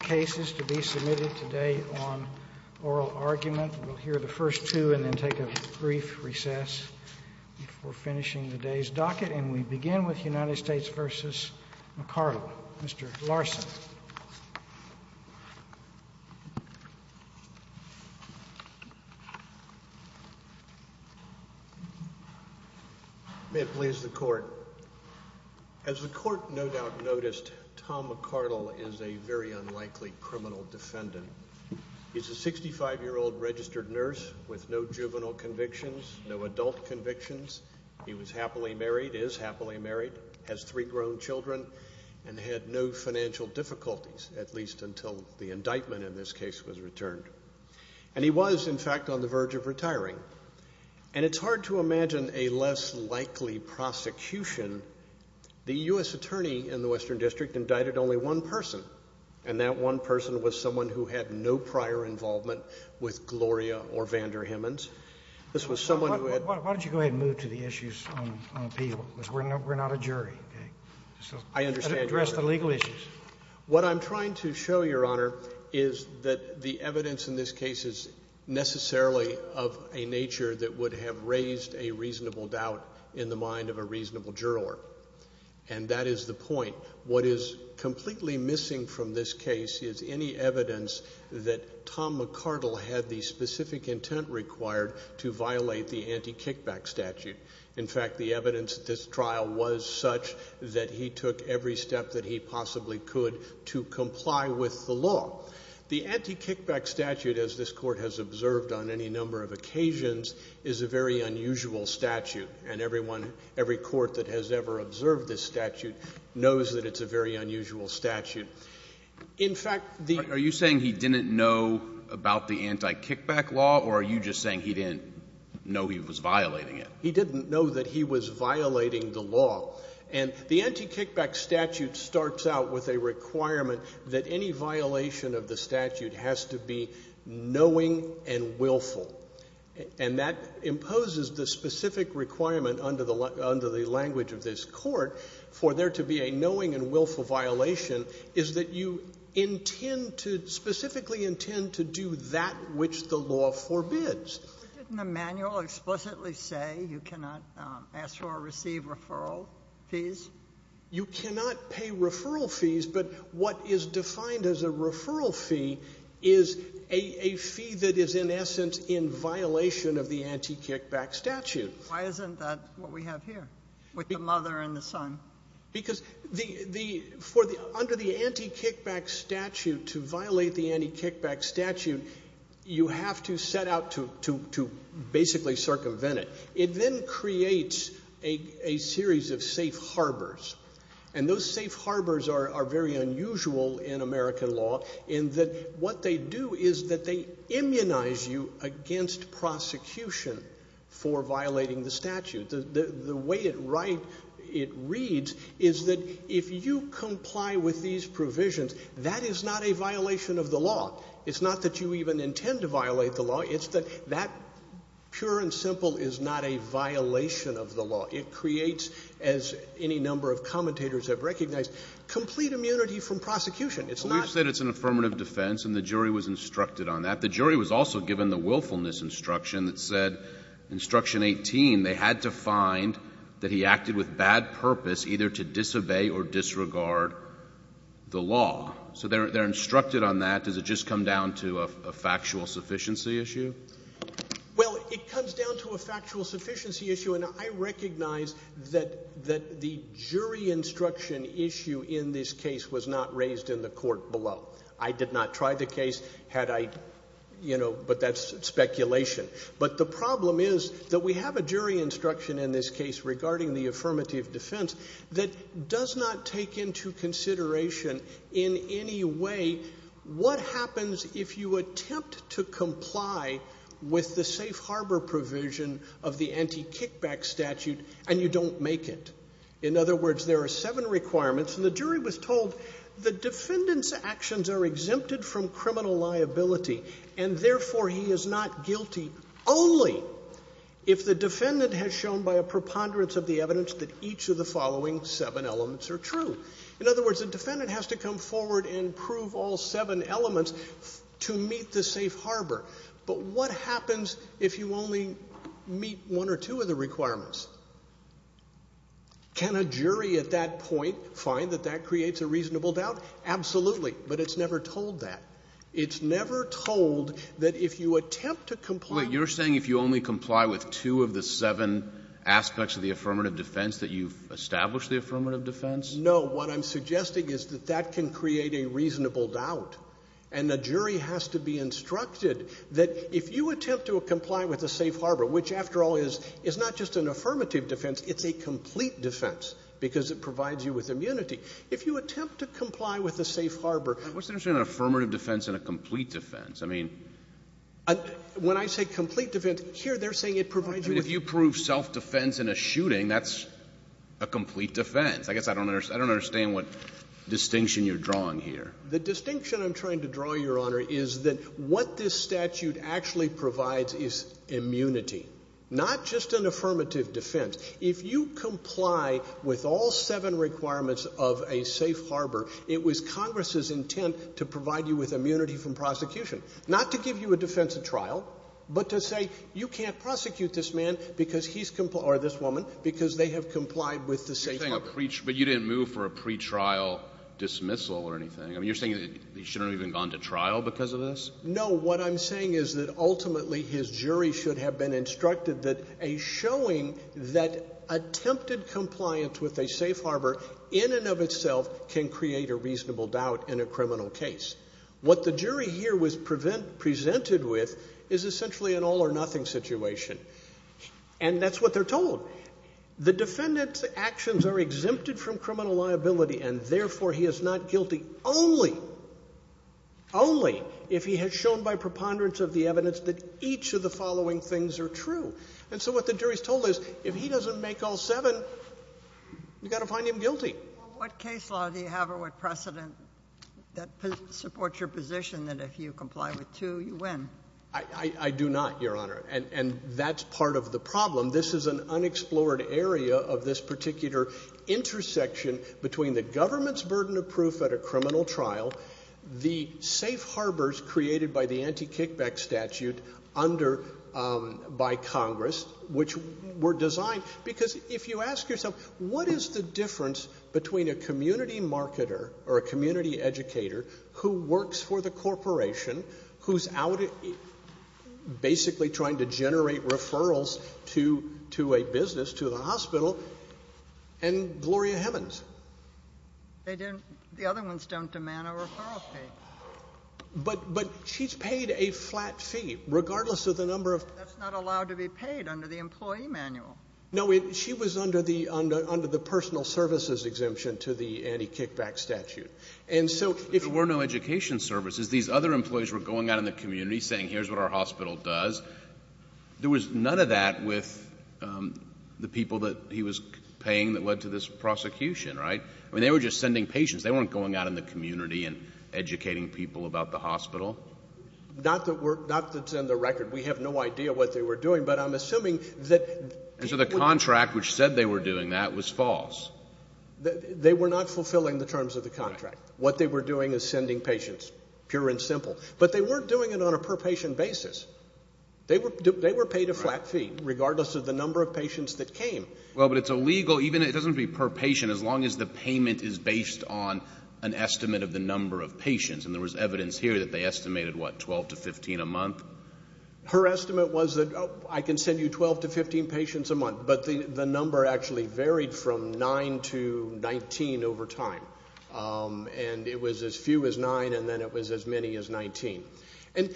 cases to be submitted today on oral argument. We'll hear the first two and then take a brief recess before finishing today's docket and we begin with United States v. McCardell. Mr. Larson. May it please the court. As the court no doubt noticed, Tom McCardell is a very unlikely criminal defendant. He's a 65-year-old registered nurse with no juvenile convictions, no adult convictions. He was happily married, is happily married, has three grown children, and had no financial difficulties whatsoever. At least until the indictment in this case was returned. And he was, in fact, on the verge of retiring. And it's hard to imagine a less likely prosecution. The U.S. attorney in the Western District indicted only one person, and that one person was someone who had no prior involvement with Gloria or Vander Himmans. This was someone who had — Why don't you go ahead and move to the issues on appeal, because we're not a jury. I understand. Address the legal issues. What I'm trying to show, Your Honor, is that the evidence in this case is necessarily of a nature that would have raised a reasonable doubt in the mind of a reasonable juror. And that is the point. What is completely missing from this case is any evidence that Tom McCardell had the specific intent required to violate the anti-kickback statute. In fact, the evidence at this trial was such that he took every step that he possibly could to comply with the law. The anti-kickback statute, as this Court has observed on any number of occasions, is a very unusual statute. And everyone — every court that has ever observed this statute knows that it's a very unusual statute. In fact, the — Are you saying he didn't know about the anti-kickback law, or are you just saying he didn't know he was violating it? He didn't know that he was violating the law. And the anti-kickback statute starts out with a requirement that any violation of the statute has to be knowing and willful. And that imposes the specific requirement under the language of this Court for there to be a knowing and willful violation is that you intend to — specifically intend to do that which the law forbids. Didn't the manual explicitly say you cannot ask for or receive referral fees? You cannot pay referral fees, but what is defined as a referral fee is a fee that is in essence in violation of the anti-kickback statute. Why isn't that what we have here, with the mother and the son? Because the — for the — under the anti-kickback statute, to violate the anti-kickback statute, you have to set out to basically circumvent it. It then creates a series of safe harbors, and those safe harbors are very unusual in American law in that what they do is that they immunize you against prosecution for violating the statute. The way it write — it reads is that if you comply with these provisions, that is not a violation of the law. It's not that you even intend to violate the law. It's that that, pure and simple, is not a violation of the law. It creates, as any number of commentators have recognized, complete immunity from prosecution. It's not — We've said it's an affirmative defense, and the jury was instructed on that. But the jury was also given the willfulness instruction that said, instruction 18, they had to find that he acted with bad purpose either to disobey or disregard the law. So they're instructed on that. Does it just come down to a factual sufficiency issue? Well, it comes down to a factual sufficiency issue, and I recognize that the jury instruction issue in this case was not raised in the court below. I did not try the case had I — you know, but that's speculation. But the problem is that we have a jury instruction in this case regarding the affirmative defense that does not take into consideration in any way what happens if you attempt to comply with the safe harbor provision of the anti-kickback statute and you don't make it. In other words, there are seven requirements, and the jury was told the defendant's actions are exempted from criminal liability, and therefore he is not guilty only if the defendant has shown by a preponderance of the evidence that each of the following seven elements are true. In other words, the defendant has to come forward and prove all seven elements to meet the safe harbor. But what happens if you only meet one or two of the requirements? Can a jury at that point find that that creates a reasonable doubt? Absolutely. But it's never told that. It's never told that if you attempt to comply — Wait. You're saying if you only comply with two of the seven aspects of the affirmative defense that you've established the affirmative defense? No. What I'm suggesting is that that can create a reasonable doubt. And the jury has to be instructed that if you attempt to comply with the safe harbor, which, after all, is not just an affirmative defense. It's a complete defense because it provides you with immunity. If you attempt to comply with the safe harbor — What's the difference between an affirmative defense and a complete defense? I mean — When I say complete defense, here they're saying it provides you with — I mean, if you prove self-defense in a shooting, that's a complete defense. I guess I don't understand what distinction you're drawing here. The distinction I'm trying to draw, Your Honor, is that what this statute actually provides is immunity, not just an affirmative defense. If you comply with all seven requirements of a safe harbor, it was Congress's intent to provide you with immunity from prosecution, not to give you a defensive trial, but to say you can't prosecute this man because he's — or this woman because they have complied with the safe harbor. But you didn't move for a pretrial dismissal or anything. I mean, you're saying that he shouldn't have even gone to trial because of this? No. What I'm saying is that ultimately his jury should have been instructed that a showing that attempted compliance with a safe harbor in and of itself can create a reasonable doubt in a criminal case. What the jury here was presented with is essentially an all-or-nothing situation. And that's what they're told. The defendant's actions are exempted from criminal liability, and therefore he is not guilty only — only if he has shown by preponderance of the evidence that each of the following things are true. And so what the jury is told is if he doesn't make all seven, you've got to find him guilty. Well, what case law do you have or what precedent that supports your position that if you comply with two, you win? I do not, Your Honor. And that's part of the problem. This is an unexplored area of this particular intersection between the government's burden of proof at a criminal trial, the safe harbors created by the anti-kickback statute under — by Congress, which were designed — because if you ask yourself, what is the difference between a community marketer or a community educator who works for the corporation, who's out basically trying to generate referrals to a business, to the hospital, and Gloria Hemmons? They didn't — the other ones don't demand a referral fee. But she's paid a flat fee, regardless of the number of — But that's not allowed to be paid under the employee manual. No. She was under the — under the personal services exemption to the anti-kickback statute. And so if — But there were no education services. These other employees were going out in the community saying, here's what our hospital does. There was none of that with the people that he was paying that led to this prosecution, right? I mean, they were just sending patients. They weren't going out in the community and educating people about the hospital. Not that we're — not that's in the record. We have no idea what they were doing, but I'm assuming that — And so the contract which said they were doing that was false. They were not fulfilling the terms of the contract. What they were doing is sending patients, pure and simple. But they weren't doing it on a per-patient basis. They were paid a flat fee, regardless of the number of patients that came. Well, but it's illegal — even if it doesn't be per-patient, as long as the payment is based on an estimate of the number of patients. And there was evidence here that they estimated, what, 12 to 15 a month? Her estimate was that, oh, I can send you 12 to 15 patients a month. But the number actually varied from 9 to 19 over time. And it was as few as 9, and then it was as many as 19. And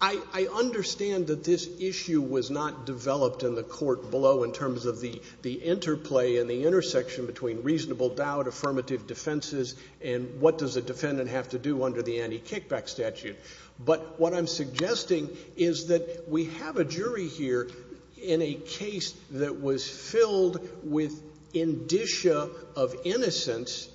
I understand that this issue was not developed in the court below in terms of the interplay and the intersection between reasonable doubt, affirmative defenses, and what does a defendant have to do under the anti-kickback statute. But what I'm suggesting is that we have a jury here in a case that was filled with indicia of innocence,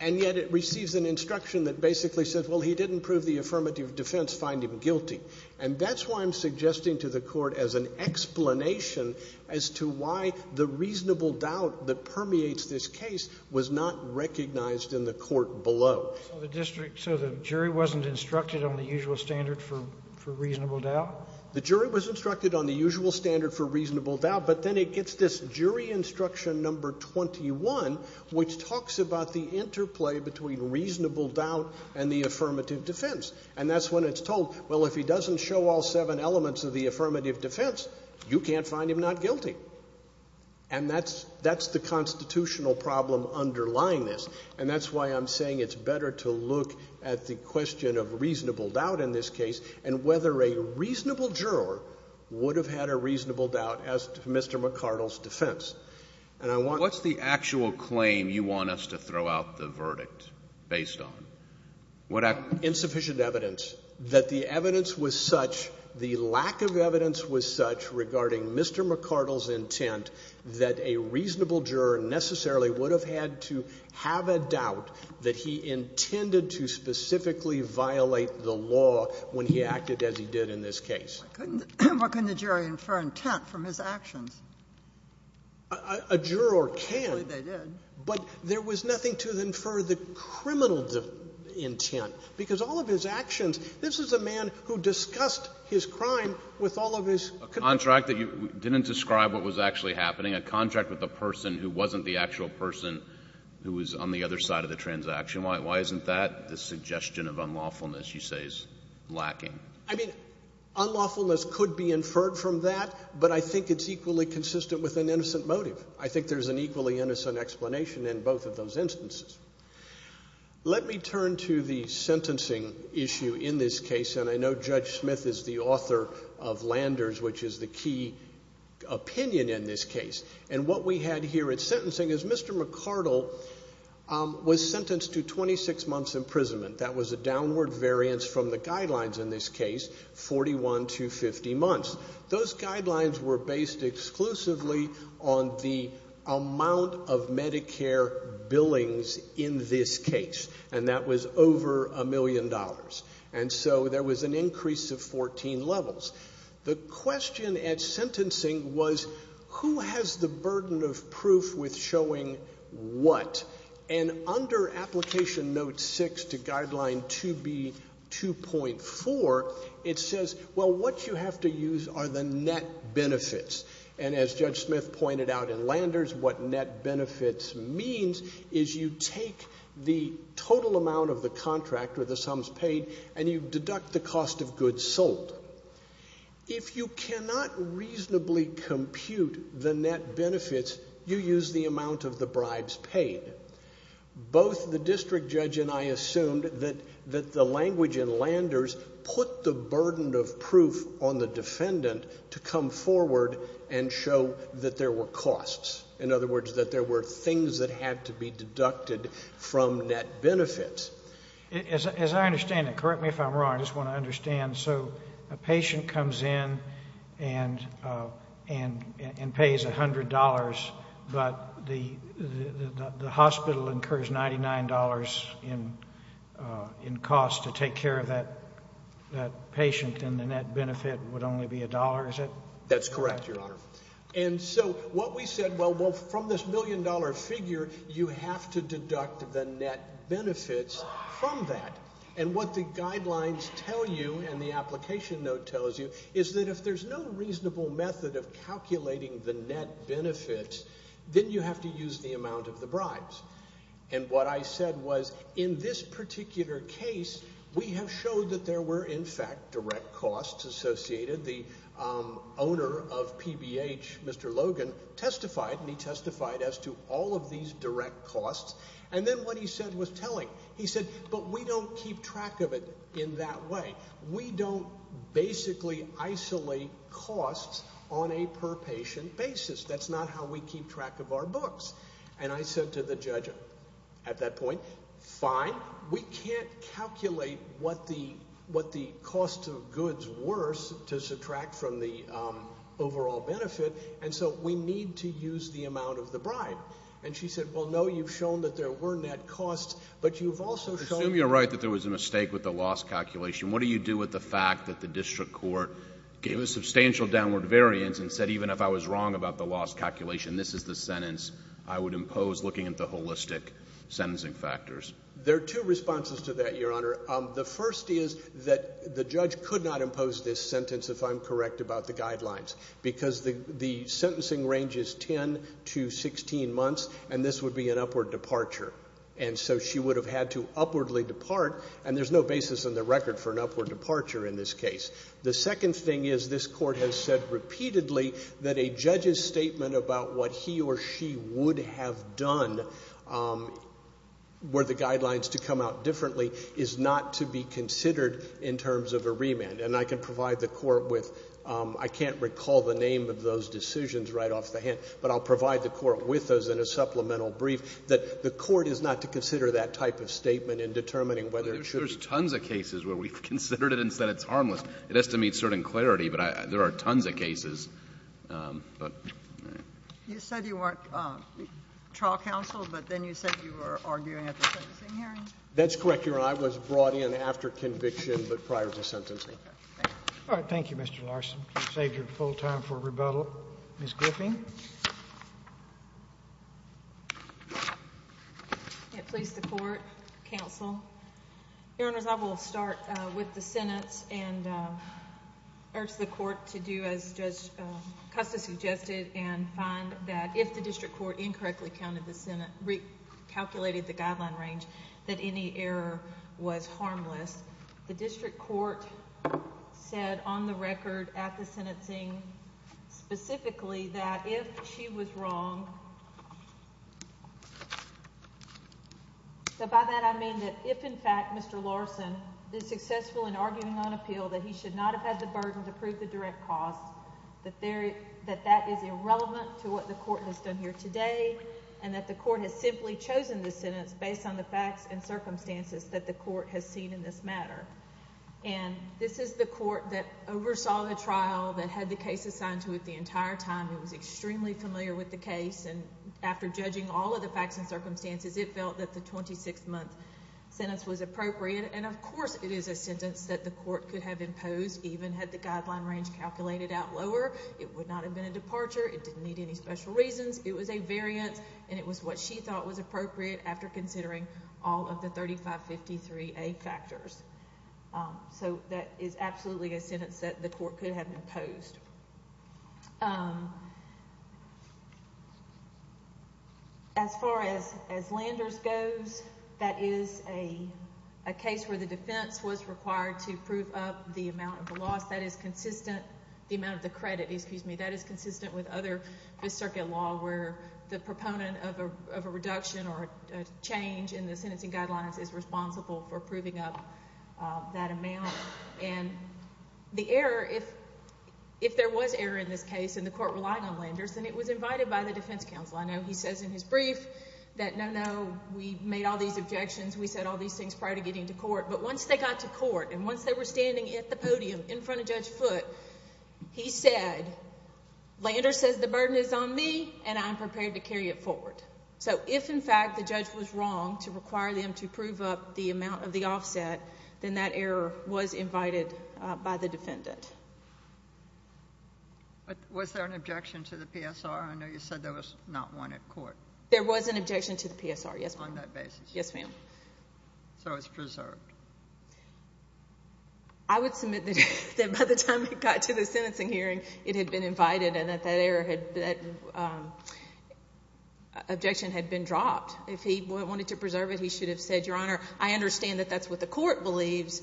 and yet it receives an instruction that basically says, well, he didn't prove the affirmative defense, find him guilty. And that's why I'm suggesting to the Court as an explanation as to why the reasonable doubt that permeates this case was not recognized in the court below. So the district — so the jury wasn't instructed on the usual standard for reasonable doubt? The jury was instructed on the usual standard for reasonable doubt, but then it gets this jury instruction number 21, which talks about the interplay between reasonable doubt and the affirmative defense. And that's when it's told, well, if he doesn't show all seven elements of the affirmative defense, you can't find him not guilty. And that's the constitutional problem underlying this. And that's why I'm saying it's better to look at the question of reasonable doubt in this case and whether a reasonable juror would have had a reasonable doubt as to Mr. McArdle's defense. And I want — What's the actual claim you want us to throw out the verdict based on? What I — Insufficient evidence. That the evidence was such — the lack of evidence was such regarding Mr. McArdle's intent that a reasonable juror necessarily would have had to have a doubt that he intended to specifically violate the law when he acted as he did in this case. Why couldn't the jury infer intent from his actions? A juror can. They did. But there was nothing to infer the criminal intent, because all of his actions — this is a man who discussed his crime with all of his — A contract that you didn't describe what was actually happening, a contract with a person who wasn't the actual person who was on the other side of the transaction. Why isn't that the suggestion of unlawfulness you say is lacking? I mean, unlawfulness could be inferred from that, but I think it's equally consistent with an innocent motive. I think there's an equally innocent explanation in both of those instances. Let me turn to the sentencing issue in this case, and I know Judge Smith is the author of Landers, which is the key opinion in this case. And what we had here at sentencing is Mr. McArdle was sentenced to 26 months imprisonment. That was a downward variance from the guidelines in this case, 41 to 50 months. Those guidelines were based exclusively on the amount of Medicare billings in this case, and that was over a million dollars. And so there was an increase of 14 levels. The question at sentencing was who has the burden of proof with showing what? And under Application Note 6 to Guideline 2B2.4, it says, well, what you have to use are the net benefits. And as Judge Smith pointed out in Landers, what net benefits means is you take the total amount of the contract or the sums paid, and you deduct the cost of goods sold. If you cannot reasonably compute the net benefits, you use the amount of the bribes paid. Both the district judge and I assumed that the language in Landers put the burden of proof on the defendant to come forward and show that there were costs, in other words, that there were things that had to be deducted from net benefits. As I understand it, correct me if I'm wrong, I just want to understand. So a patient comes in and pays $100, but the hospital incurs $99 in costs to take care of that patient, and the net benefit would only be a dollar, is it? That's correct, Your Honor. And so what we said, well, from this million-dollar figure, you have to deduct the net benefits from that. And what the guidelines tell you, and the Application Note tells you, is that if there's no reasonable method of calculating the net benefits, then you have to use the amount of the bribes. And what I said was, in this particular case, we have showed that there were, in fact, direct costs associated. The owner of PBH, Mr. Logan, testified, and he testified as to all of these direct costs. And then what he said was telling. He said, but we don't keep track of it in that way. We don't basically isolate costs on a per patient basis. That's not how we keep track of our books. And I said to the judge at that point, fine, we can't calculate what the cost of goods were to subtract from the overall benefit, and so we need to use the amount of the bribe. And she said, well, no, you've shown that there were net costs, but you've also shown. Assume you're right that there was a mistake with the loss calculation. What do you do with the fact that the district court gave a substantial downward variance and said even if I was wrong about the loss calculation, this is the sentence I would impose, looking at the holistic sentencing factors? There are two responses to that, Your Honor. The first is that the judge could not impose this sentence if I'm correct about the guidelines, because the sentencing range is 10 to 16 months, and this would be an upward departure. And so she would have had to upwardly depart, and there's no basis in the record for an upward departure in this case. The second thing is this court has said repeatedly that a judge's statement about what he or she would have done were the guidelines to come out differently is not to be considered in terms of a remand. And I can provide the court with — I can't recall the name of those decisions right off the hat, but I'll provide the court with those in a supplemental brief that the court is not to consider that type of statement in determining whether it should be. There's tons of cases where we've considered it and said it's harmless. It has to meet certain clarity, but there are tons of cases. You said you weren't trial counsel, but then you said you were arguing at the sentencing hearing? That's correct, Your Honor. I was brought in after conviction but prior to sentencing. All right. Thank you, Mr. Larson. You saved your full time for rebuttal. Ms. Griffin. May it please the Court, counsel. Your Honors, I will start with the sentence and urge the court to do as Justice Custis suggested and find that if the district court incorrectly counted the sentence, recalculated the guideline range, that any error was harmless. The district court said on the record at the sentencing specifically that if she was wrong— if, in fact, Mr. Larson is successful in arguing on appeal, that he should not have had the burden to prove the direct cause, that that is irrelevant to what the court has done here today and that the court has simply chosen this sentence based on the facts and circumstances that the court has seen in this matter. And this is the court that oversaw the trial, that had the case assigned to it the entire time. It was extremely familiar with the case, and after judging all of the facts and circumstances, it felt that the 26-month sentence was appropriate, and of course it is a sentence that the court could have imposed even had the guideline range calculated out lower. It would not have been a departure. It didn't need any special reasons. It was a variance, and it was what she thought was appropriate after considering all of the 3553A factors. So that is absolutely a sentence that the court could have imposed. As far as Landers goes, that is a case where the defense was required to prove up the amount of the loss. That is consistent—the amount of the credit, excuse me— that is consistent with other Fifth Circuit law where the proponent of a reduction or a change in the sentencing guidelines is responsible for proving up that amount. And the error, if there was error in this case and the court relied on Landers, then it was invited by the defense counsel. I know he says in his brief that, no, no, we made all these objections, we said all these things prior to getting to court, but once they got to court and once they were standing at the podium in front of Judge Foote, he said, Landers says the burden is on me, and I'm prepared to carry it forward. So if, in fact, the judge was wrong to require them to prove up the amount of the offset, then that error was invited by the defendant. Was there an objection to the PSR? I know you said there was not one at court. There was an objection to the PSR, yes, ma'am. On that basis? Yes, ma'am. So it's preserved? I would submit that by the time it got to the sentencing hearing, it had been invited and that that objection had been dropped. If he wanted to preserve it, he should have said, Your Honor, I understand that that's what the Court believes.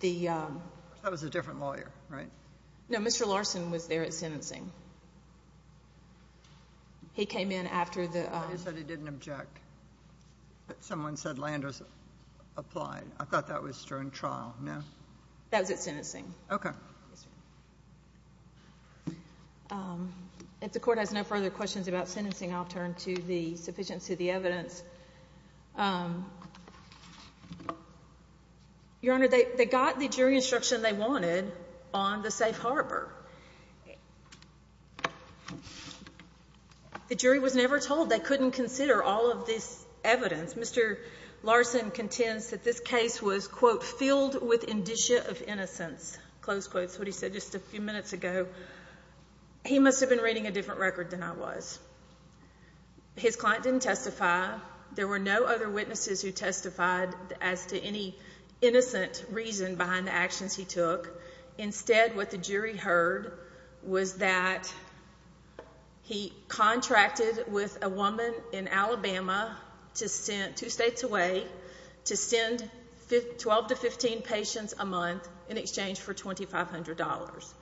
That was a different lawyer, right? No. Mr. Larson was there at sentencing. He came in after the ---- He said he didn't object. But someone said Landers applied. I thought that was during trial, no? That was at sentencing. Okay. If the Court has no further questions about sentencing, I'll turn to the sufficiency of the evidence. Your Honor, they got the jury instruction they wanted on the safe harbor. The jury was never told. They couldn't consider all of this evidence. Mr. Larson contends that this case was, quote, filled with indicia of innocence, close quotes, what he said just a few minutes ago. He must have been reading a different record than I was. His client didn't testify. There were no other witnesses who testified as to any innocent reason behind the actions he took. Instead, what the jury heard was that he contracted with a woman in Alabama, two states away, to send 12 to 15 patients a month in exchange for $2,500.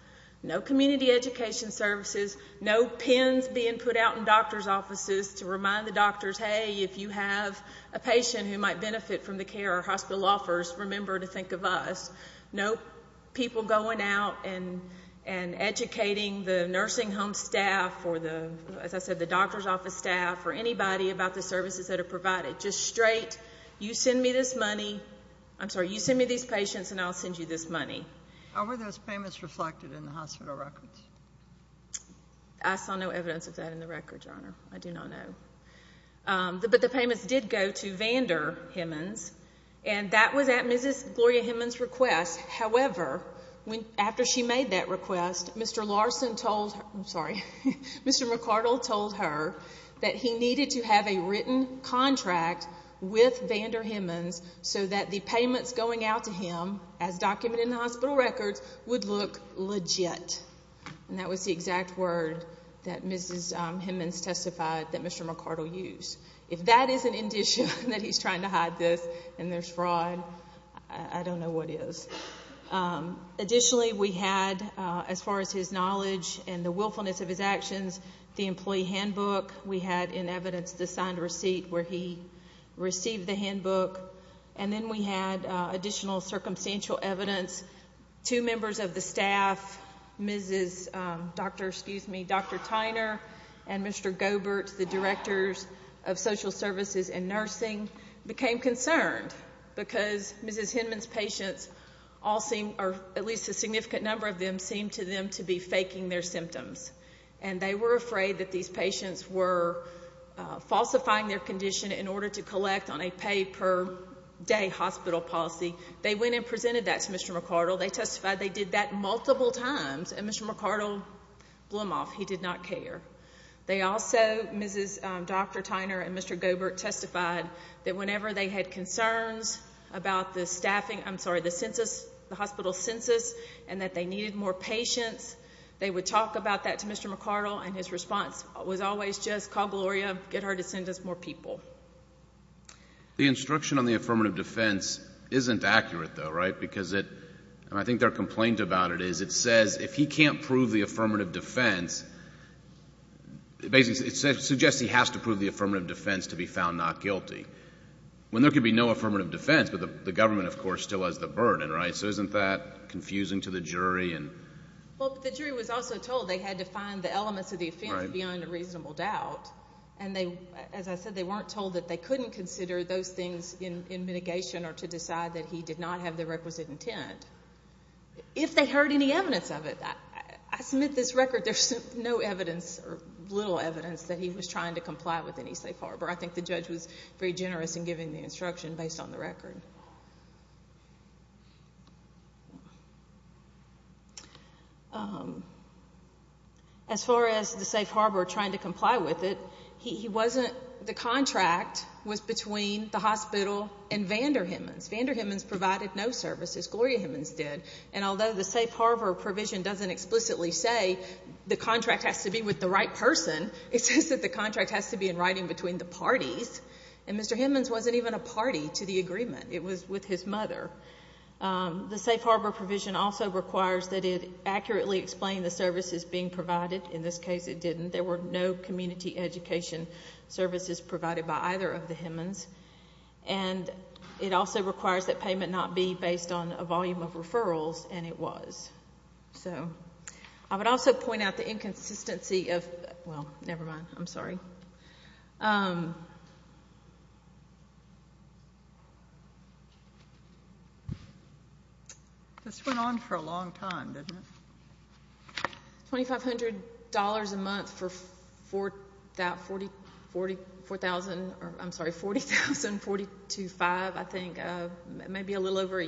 No community education services. No pens being put out in doctor's offices to remind the doctors, hey, if you have a patient who might benefit from the care our hospital offers, remember to think of us. No people going out and educating the nursing home staff or, as I said, the doctor's office staff or anybody about the services that are provided. Just straight, you send me this money. I'm sorry, you send me these patients and I'll send you this money. How were those payments reflected in the hospital records? I saw no evidence of that in the records, Your Honor. I do not know. But the payments did go to Vander Himmons, and that was at Mrs. Gloria Himmons' request. However, after she made that request, Mr. Larson told her, I'm sorry, Mr. McArdle told her that he needed to have a written contract with Vander Himmons so that the payments going out to him as documented in the hospital records would look legit. And that was the exact word that Mrs. Himmons testified that Mr. McArdle used. If that is an indication that he's trying to hide this and there's fraud, I don't know what is. Additionally, we had, as far as his knowledge and the willfulness of his actions, the employee handbook. We had in evidence the signed receipt where he received the handbook. And then we had additional circumstantial evidence. Two members of the staff, Dr. Tyner and Mr. Gobert, the directors of social services and nursing, became concerned because Mrs. Himmons' patients all seemed, or at least a significant number of them, seemed to them to be faking their symptoms. And they were afraid that these patients were falsifying their condition in order to collect on a pay-per-day hospital policy. They went and presented that to Mr. McArdle. They testified they did that multiple times, and Mr. McArdle blew them off. He did not care. They also, Mrs. Dr. Tyner and Mr. Gobert, testified that whenever they had concerns about the staffing, I'm sorry, the census, the hospital census, and that they needed more patients, they would talk about that to Mr. McArdle, and his response was always just, call Gloria, get her to send us more people. The instruction on the affirmative defense isn't accurate, though, right, because it, and I think their complaint about it is it says if he can't prove the affirmative defense, basically it suggests he has to prove the affirmative defense to be found not guilty, when there could be no affirmative defense, but the government, of course, still has the burden, right? So isn't that confusing to the jury? Well, the jury was also told they had to find the elements of the offense beyond a reasonable doubt, and they, as I said, they weren't told that they couldn't consider those things in mitigation or to decide that he did not have the requisite intent. If they heard any evidence of it, I submit this record there's no evidence or little evidence that he was trying to comply with any safe harbor. I think the judge was very generous in giving the instruction based on the record. As far as the safe harbor, trying to comply with it, he wasn't, the contract was between the hospital and Vander Himmens. Vander Himmens provided no services. Gloria Himmens did. And although the safe harbor provision doesn't explicitly say the contract has to be with the right person, it says that the contract has to be in writing between the parties, and Mr. Himmens wasn't even a party to the agreement. It was with his mother. The safe harbor provision also requires that it accurately explain the services being provided. In this case, it didn't. There were no community education services provided by either of the Himmens, and it also requires that payment not be based on a volume of referrals, and it was. So I would also point out the inconsistency of, well, never mind, I'm sorry. This went on for a long time, didn't it? $2,500 a month for that 40,000, I'm sorry, 40,000, 42,500, I think, maybe a little over, I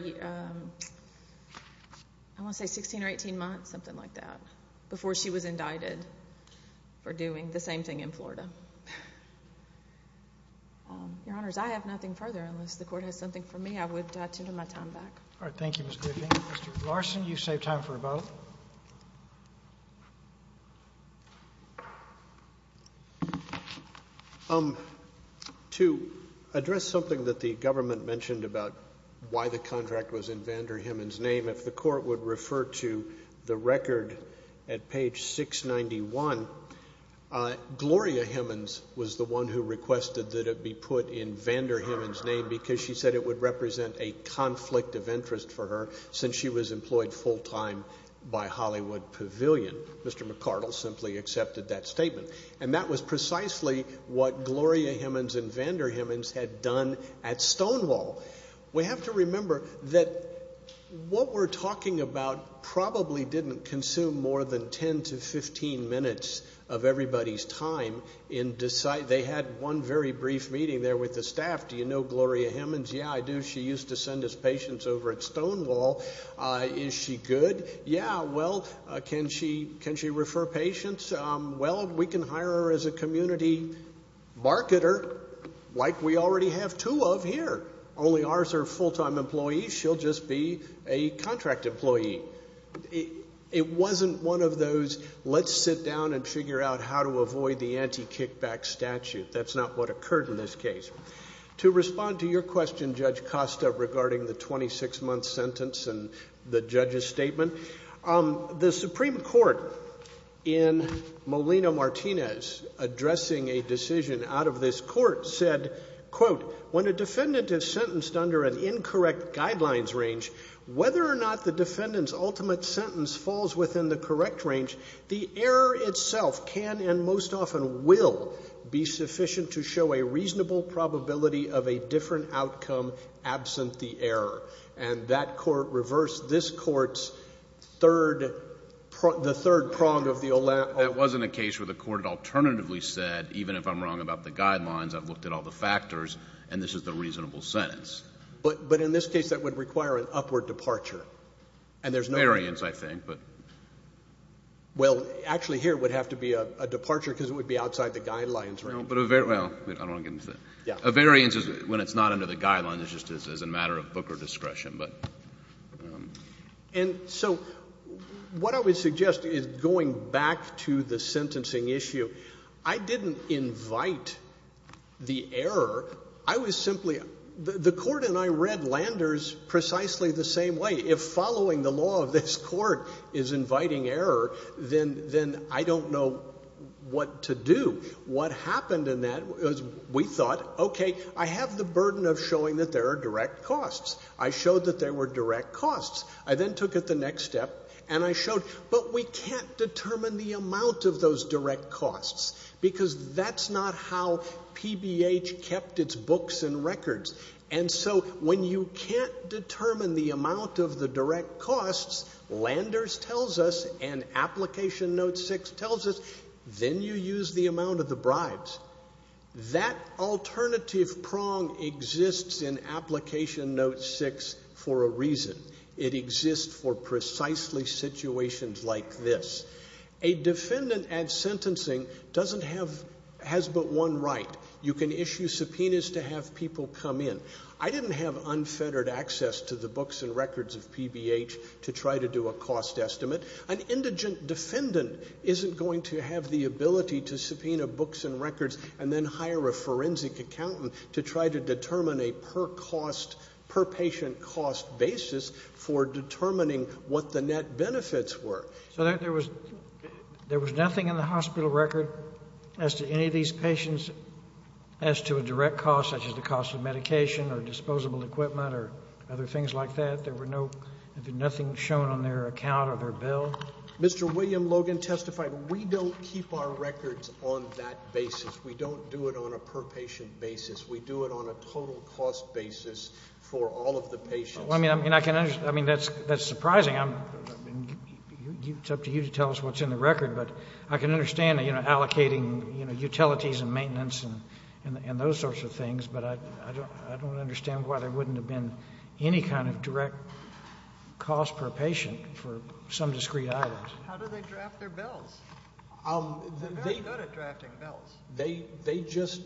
want to say 16 or 18 months, something like that, before she was indicted for doing the same thing in Florida. Your Honors, I have nothing further. Unless the Court has something for me, I would tender my time back. All right. Thank you, Ms. Griffin. Thank you, Mr. Larson. You've saved time for both. To address something that the government mentioned about why the contract was in Vander Himmens' name, if the Court would refer to the record at page 691, Gloria Himmens was the one who requested that it be put in Vander Himmens' name because she said it would represent a conflict of interest for her since she was employed full-time by Hollywood Pavilion. Mr. McArdle simply accepted that statement. And that was precisely what Gloria Himmens and Vander Himmens had done at Stonewall. We have to remember that what we're talking about probably didn't consume more than 10 to 15 minutes of everybody's time. They had one very brief meeting there with the staff. Do you know Gloria Himmens? Yeah, I do. She used to send us patients over at Stonewall. Is she good? Yeah. Well, can she refer patients? Well, we can hire her as a community marketer like we already have two of here. Only ours are full-time employees. She'll just be a contract employee. It wasn't one of those let's sit down and figure out how to avoid the anti-kickback statute. That's not what occurred in this case. To respond to your question, Judge Costa, regarding the 26-month sentence and the judge's statement, the Supreme Court in Molina-Martinez addressing a decision out of this court said, quote, when a defendant is sentenced under an incorrect guidelines range, whether or not the defendant's ultimate sentence falls within the correct range, the error itself can and most often will be sufficient to show a reasonable probability of a different outcome absent the error. And that court reversed this court's third, the third prong of the. That wasn't a case where the court alternatively said, even if I'm wrong about the guidelines, I've looked at all the factors, and this is the reasonable sentence. But in this case, that would require an upward departure. And there's no. Variance, I think. Well, actually, here it would have to be a departure because it would be outside the guidelines range. Well, I don't want to get into that. A variance is when it's not under the guidelines. It's just as a matter of Booker discretion. And so what I would suggest is going back to the sentencing issue. I didn't invite the error. I was simply the court and I read Landers precisely the same way. If following the law of this court is inviting error, then I don't know what to do. What happened in that was we thought, okay, I have the burden of showing that there are direct costs. I showed that there were direct costs. I then took it the next step and I showed, but we can't determine the amount of those direct costs because that's not how PBH kept its books and records. And so when you can't determine the amount of the direct costs, Landers tells us and Application Note 6 tells us, then you use the amount of the bribes. That alternative prong exists in Application Note 6 for a reason. It exists for precisely situations like this. A defendant at sentencing doesn't have, has but one right. You can issue subpoenas to have people come in. I didn't have unfettered access to the books and records of PBH to try to do a cost estimate. An indigent defendant isn't going to have the ability to subpoena books and records and then hire a forensic accountant to try to determine a per cost, per patient cost basis for determining what the net benefits were. So there was nothing in the hospital record as to any of these patients as to a direct cost, such as the cost of medication or disposable equipment or other things like that? There were no, nothing shown on their account or their bill? Mr. William Logan testified, we don't keep our records on that basis. We don't do it on a per patient basis. We do it on a total cost basis for all of the patients. I mean, that's surprising. I mean, it's up to you to tell us what's in the record, but I can understand allocating utilities and maintenance and those sorts of things, but I don't understand why there wouldn't have been any kind of direct cost per patient for some discrete items. How do they draft their bills? They're very good at drafting bills. They just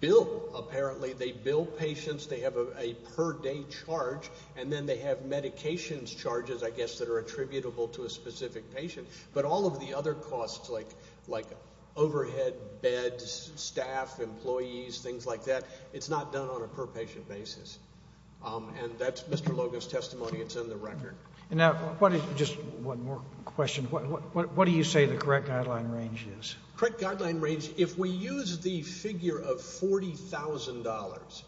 bill, apparently. They bill patients, they have a per day charge, and then they have medications charges, I guess, that are attributable to a specific patient. But all of the other costs, like overhead, beds, staff, employees, things like that, it's not done on a per patient basis. And that's Mr. Logan's testimony. It's in the record. Just one more question. What do you say the correct guideline range is? Correct guideline range, if we use the figure of $40,000,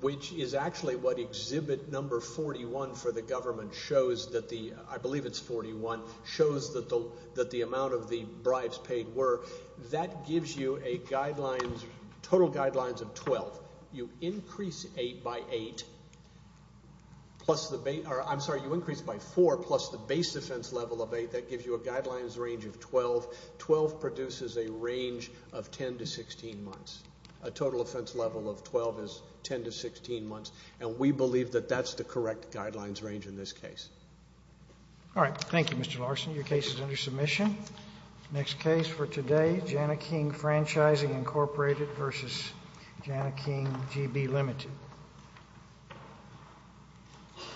which is actually what exhibit number 41 for the government shows that the, I believe it's 41, shows that the amount of the bribes paid were, that gives you a guidelines, total guidelines of 12. You increase 8 by 8, plus the base, I'm sorry, you increase by 4 plus the base defense level of 8, that gives you a guidelines range of 12. 12 produces a range of 10 to 16 months. A total offense level of 12 is 10 to 16 months, and we believe that that's the correct guidelines range in this case. All right. Thank you, Mr. Larson. Your case is under submission. Next case for today, Janneking Franchising, Incorporated v. Janneking GB, Ltd.